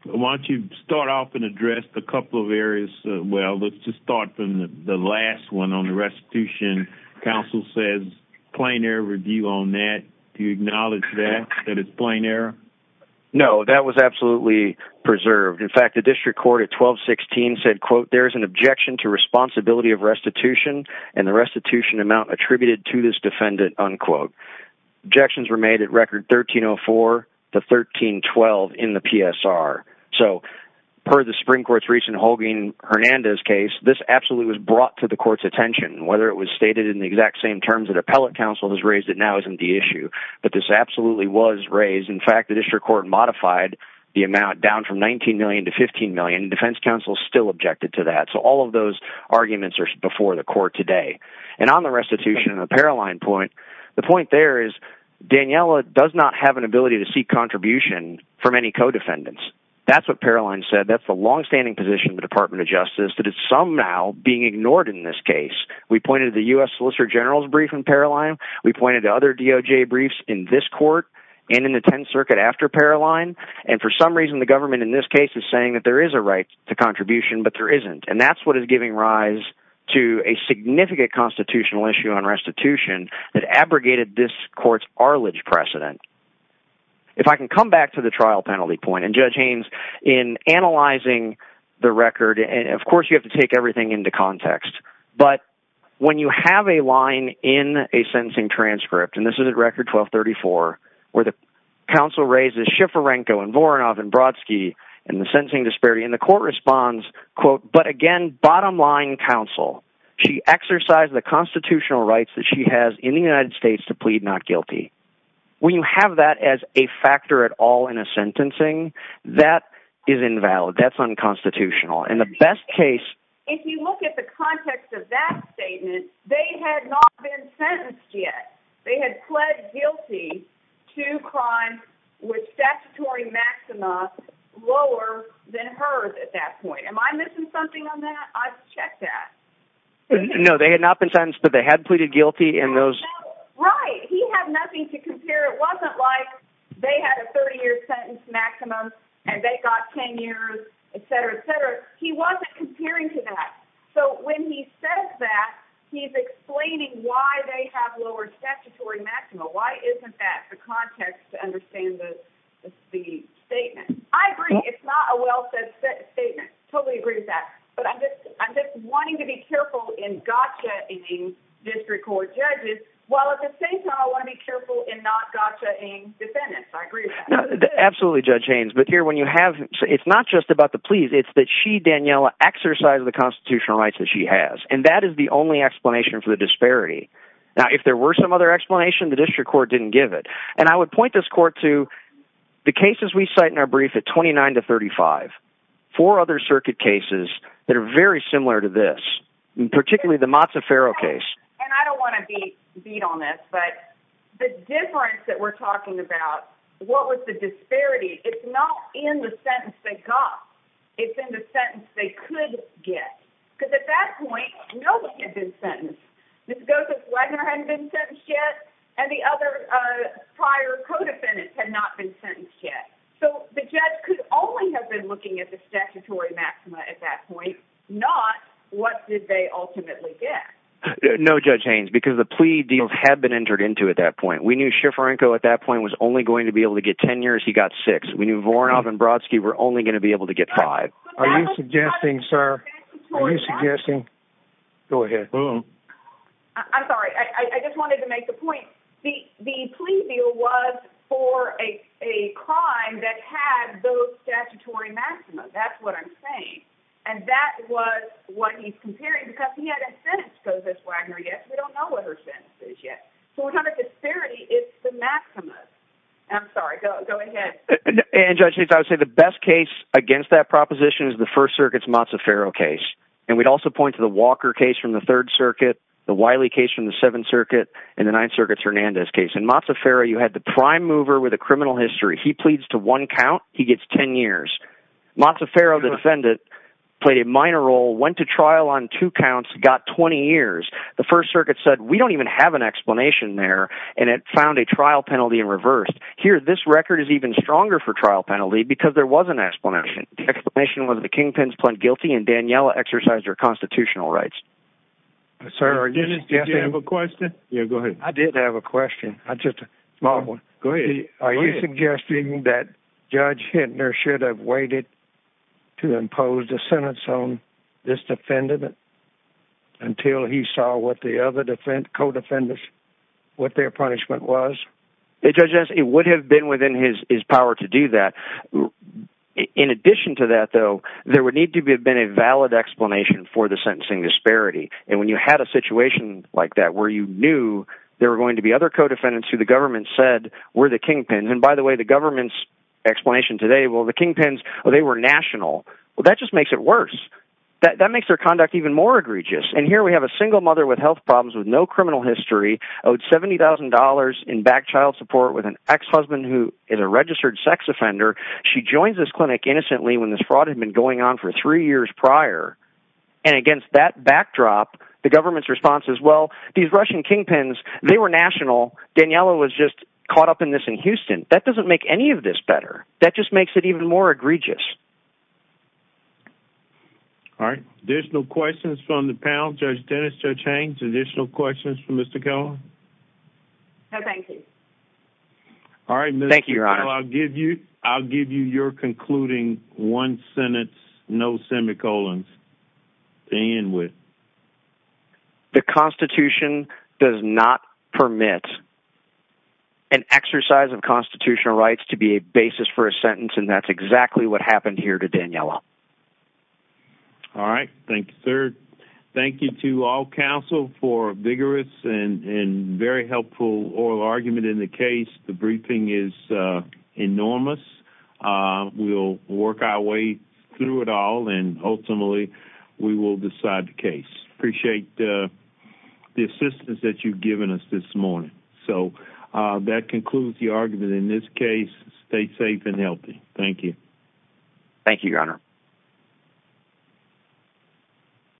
why don't you start off and address a couple of areas? Well, let's just start from the last one on the restitution. Council says plain air review on that. Do you acknowledge that that is plain air? Oh, that was absolutely preserved. In fact, the district court at 1216 said, quote, there's an objection to responsibility of restitution and the restitution amount attributed to this defendant. Unquote. Objections were made at record 1304 to 1312 in the PSR. So per the spring courts, recent Holguin Hernandez case, this absolutely was brought to the court's attention, whether it was stated in the exact same terms that appellate council has raised it now isn't the issue, but this absolutely was raised. In fact, the district court modified the amount down from 19 million to 15 million. Defense council still objected to that. So all of those arguments are before the court today. And on the restitution and the Paraline point, the point there is Daniella does not have an ability to seek contribution from any co-defendants. That's what Paraline said. That's the longstanding position of the department of justice, that it's somehow being ignored in this case. We pointed to the U S solicitor general's brief in Paraline. We pointed to other DOJ briefs in this court. We pointed to the circuit after Paraline. And for some reason, the government in this case is saying that there is a right to contribution, but there isn't. And that's what is giving rise to a significant constitutional issue on restitution that abrogated this court's Arledge precedent. If I can come back to the trial penalty point and judge Haynes in analyzing the record, and of course you have to take everything into context, but when you have a line in a sentencing transcript, and this is a record 1234, where the council raises Schiforenko and Voronov and Brodsky and the sentencing disparity in the court responds quote, but again, bottom line counsel, she exercised the constitutional rights that she has in the United States to plead not guilty. When you have that as a factor at all in a sentencing, that is invalid. That's unconstitutional. And the best case, if you look at the context of that statement, they had not been sentenced yet. They had pled guilty to crime with statutory maximum lower than hers. At that point, am I missing something on that? I've checked that. No, they had not been sentenced, but they had pleaded guilty in those. Right. He had nothing to compare. It wasn't like they had a 30 year sentence maximum and they got 10 years, et cetera, et cetera. He wasn't comparing to that. So when he says that he's explaining why they have lowered statutory maximum, why isn't that the context to understand the, the statement? I agree. It's not a well-said statement. Totally agree with that. But I'm just, I'm just wanting to be careful in gotcha eating district court judges. While at the same time, I want to be careful and not gotcha in defendants. I agree with that. Absolutely. Judge Haynes. But here, when you have, it's not just about the plea, it's that she, Daniella exercised the constitutional rights that she has. And that is the only explanation for the disparity. Now, if there were some other explanation, the district court didn't give it. And I would point this court to the cases. We cite in our brief at 29 to 35, four other circuit cases that are very similar to this, particularly the Mozzaferro case. And I don't want to be beat on that, but the difference that we're talking about, what was the disparity? It's not in the sentence they got. It's in the sentence they could get. Cause at that point, nobody had been sentenced. Mrs. Goethe-Wagner hadn't been sentenced yet. And the other prior co-defendants had not been sentenced yet. So the judge could only have been looking at the statutory maxima at that point, not what did they ultimately get? No, Judge Haynes, because the plea deal had been entered into at that point, we knew Schifranko at that point was only going to be able to get 10 years. He got six. We knew Voronov and Brodsky were only going to be able to get five. Are you suggesting, sir, are you suggesting, go ahead. I'm sorry. I just wanted to make the point. The plea deal was for a, a crime that had those statutory maxima. That's what I'm saying. And that was what he's comparing because he hadn't been sentenced. Mrs. Wagner yet. We don't know what her sentence is yet. 400 disparity is the maximum. I'm sorry. Go ahead. And judges, I would say the best case against that proposition is the first circuits Mozzaferro case. And we'd also point to the Walker case from the third circuit, the Wiley case from the seventh circuit and the ninth circuit Hernandez case. And Mozzaferro, you had the prime mover with a criminal history. He pleads to one count. He gets 10 years. Mozzaferro, the defendant played a minor role, went to trial on two counts, got 20 years. The first circuit said, we don't even have an explanation there. And it found a trial penalty in reverse here. This record is even stronger for trial penalty because there was an explanation. The explanation was the Kingpins plant guilty and Daniella exercised her constitutional rights. Sorry. Did you have a question? Yeah, go ahead. I did have a question. I just, go ahead. Are you suggesting that judge Hintner should have waited to impose a sentence on this defendant until he saw what the other defense code offenders, what their punishment was. It judges. It would have been within his, his power to do that. In addition to that, though, there would need to be a valid explanation for the sentencing disparity. And when you had a situation like that, where you knew there were going to be other co-defendants who the government said were the Kingpins. And by the way, the government's explanation today, well, the Kingpins, or they were national. Well, that just makes it worse. That, that makes their conduct even more egregious. And here we have a single mother with health problems with no criminal history owed $70,000 in back child support with an ex-husband who is a lawyer. She joins this clinic innocently when this fraud had been going on for three years prior. And against that backdrop, the government's response as well, these Russian Kingpins, they were national. Daniella was just caught up in this in Houston. That doesn't make any of this better. That just makes it even more egregious. All right. There's no questions from the panel. Judge Dennis, judge Haines, additional questions for Mr. Cohen. No, thank you. All right. Thank you. Thank you, your honor. I'll give you, I'll give you your concluding one Senate, no semi-colons. And with the constitution does not permit an exercise of constitutional rights to be a basis for a sentence. And that's exactly what happened here to Danielle. All right. Thank you, sir. Thank you to all council for vigorous and, and very helpful oral argument in the case. The briefing is, uh, enormous. Uh, we'll work our way through it all. And ultimately we will decide the case. Appreciate, uh, the assistance that you've given us this morning. So, uh, that concludes the argument in this case, stay safe and healthy. Thank you. Thank you,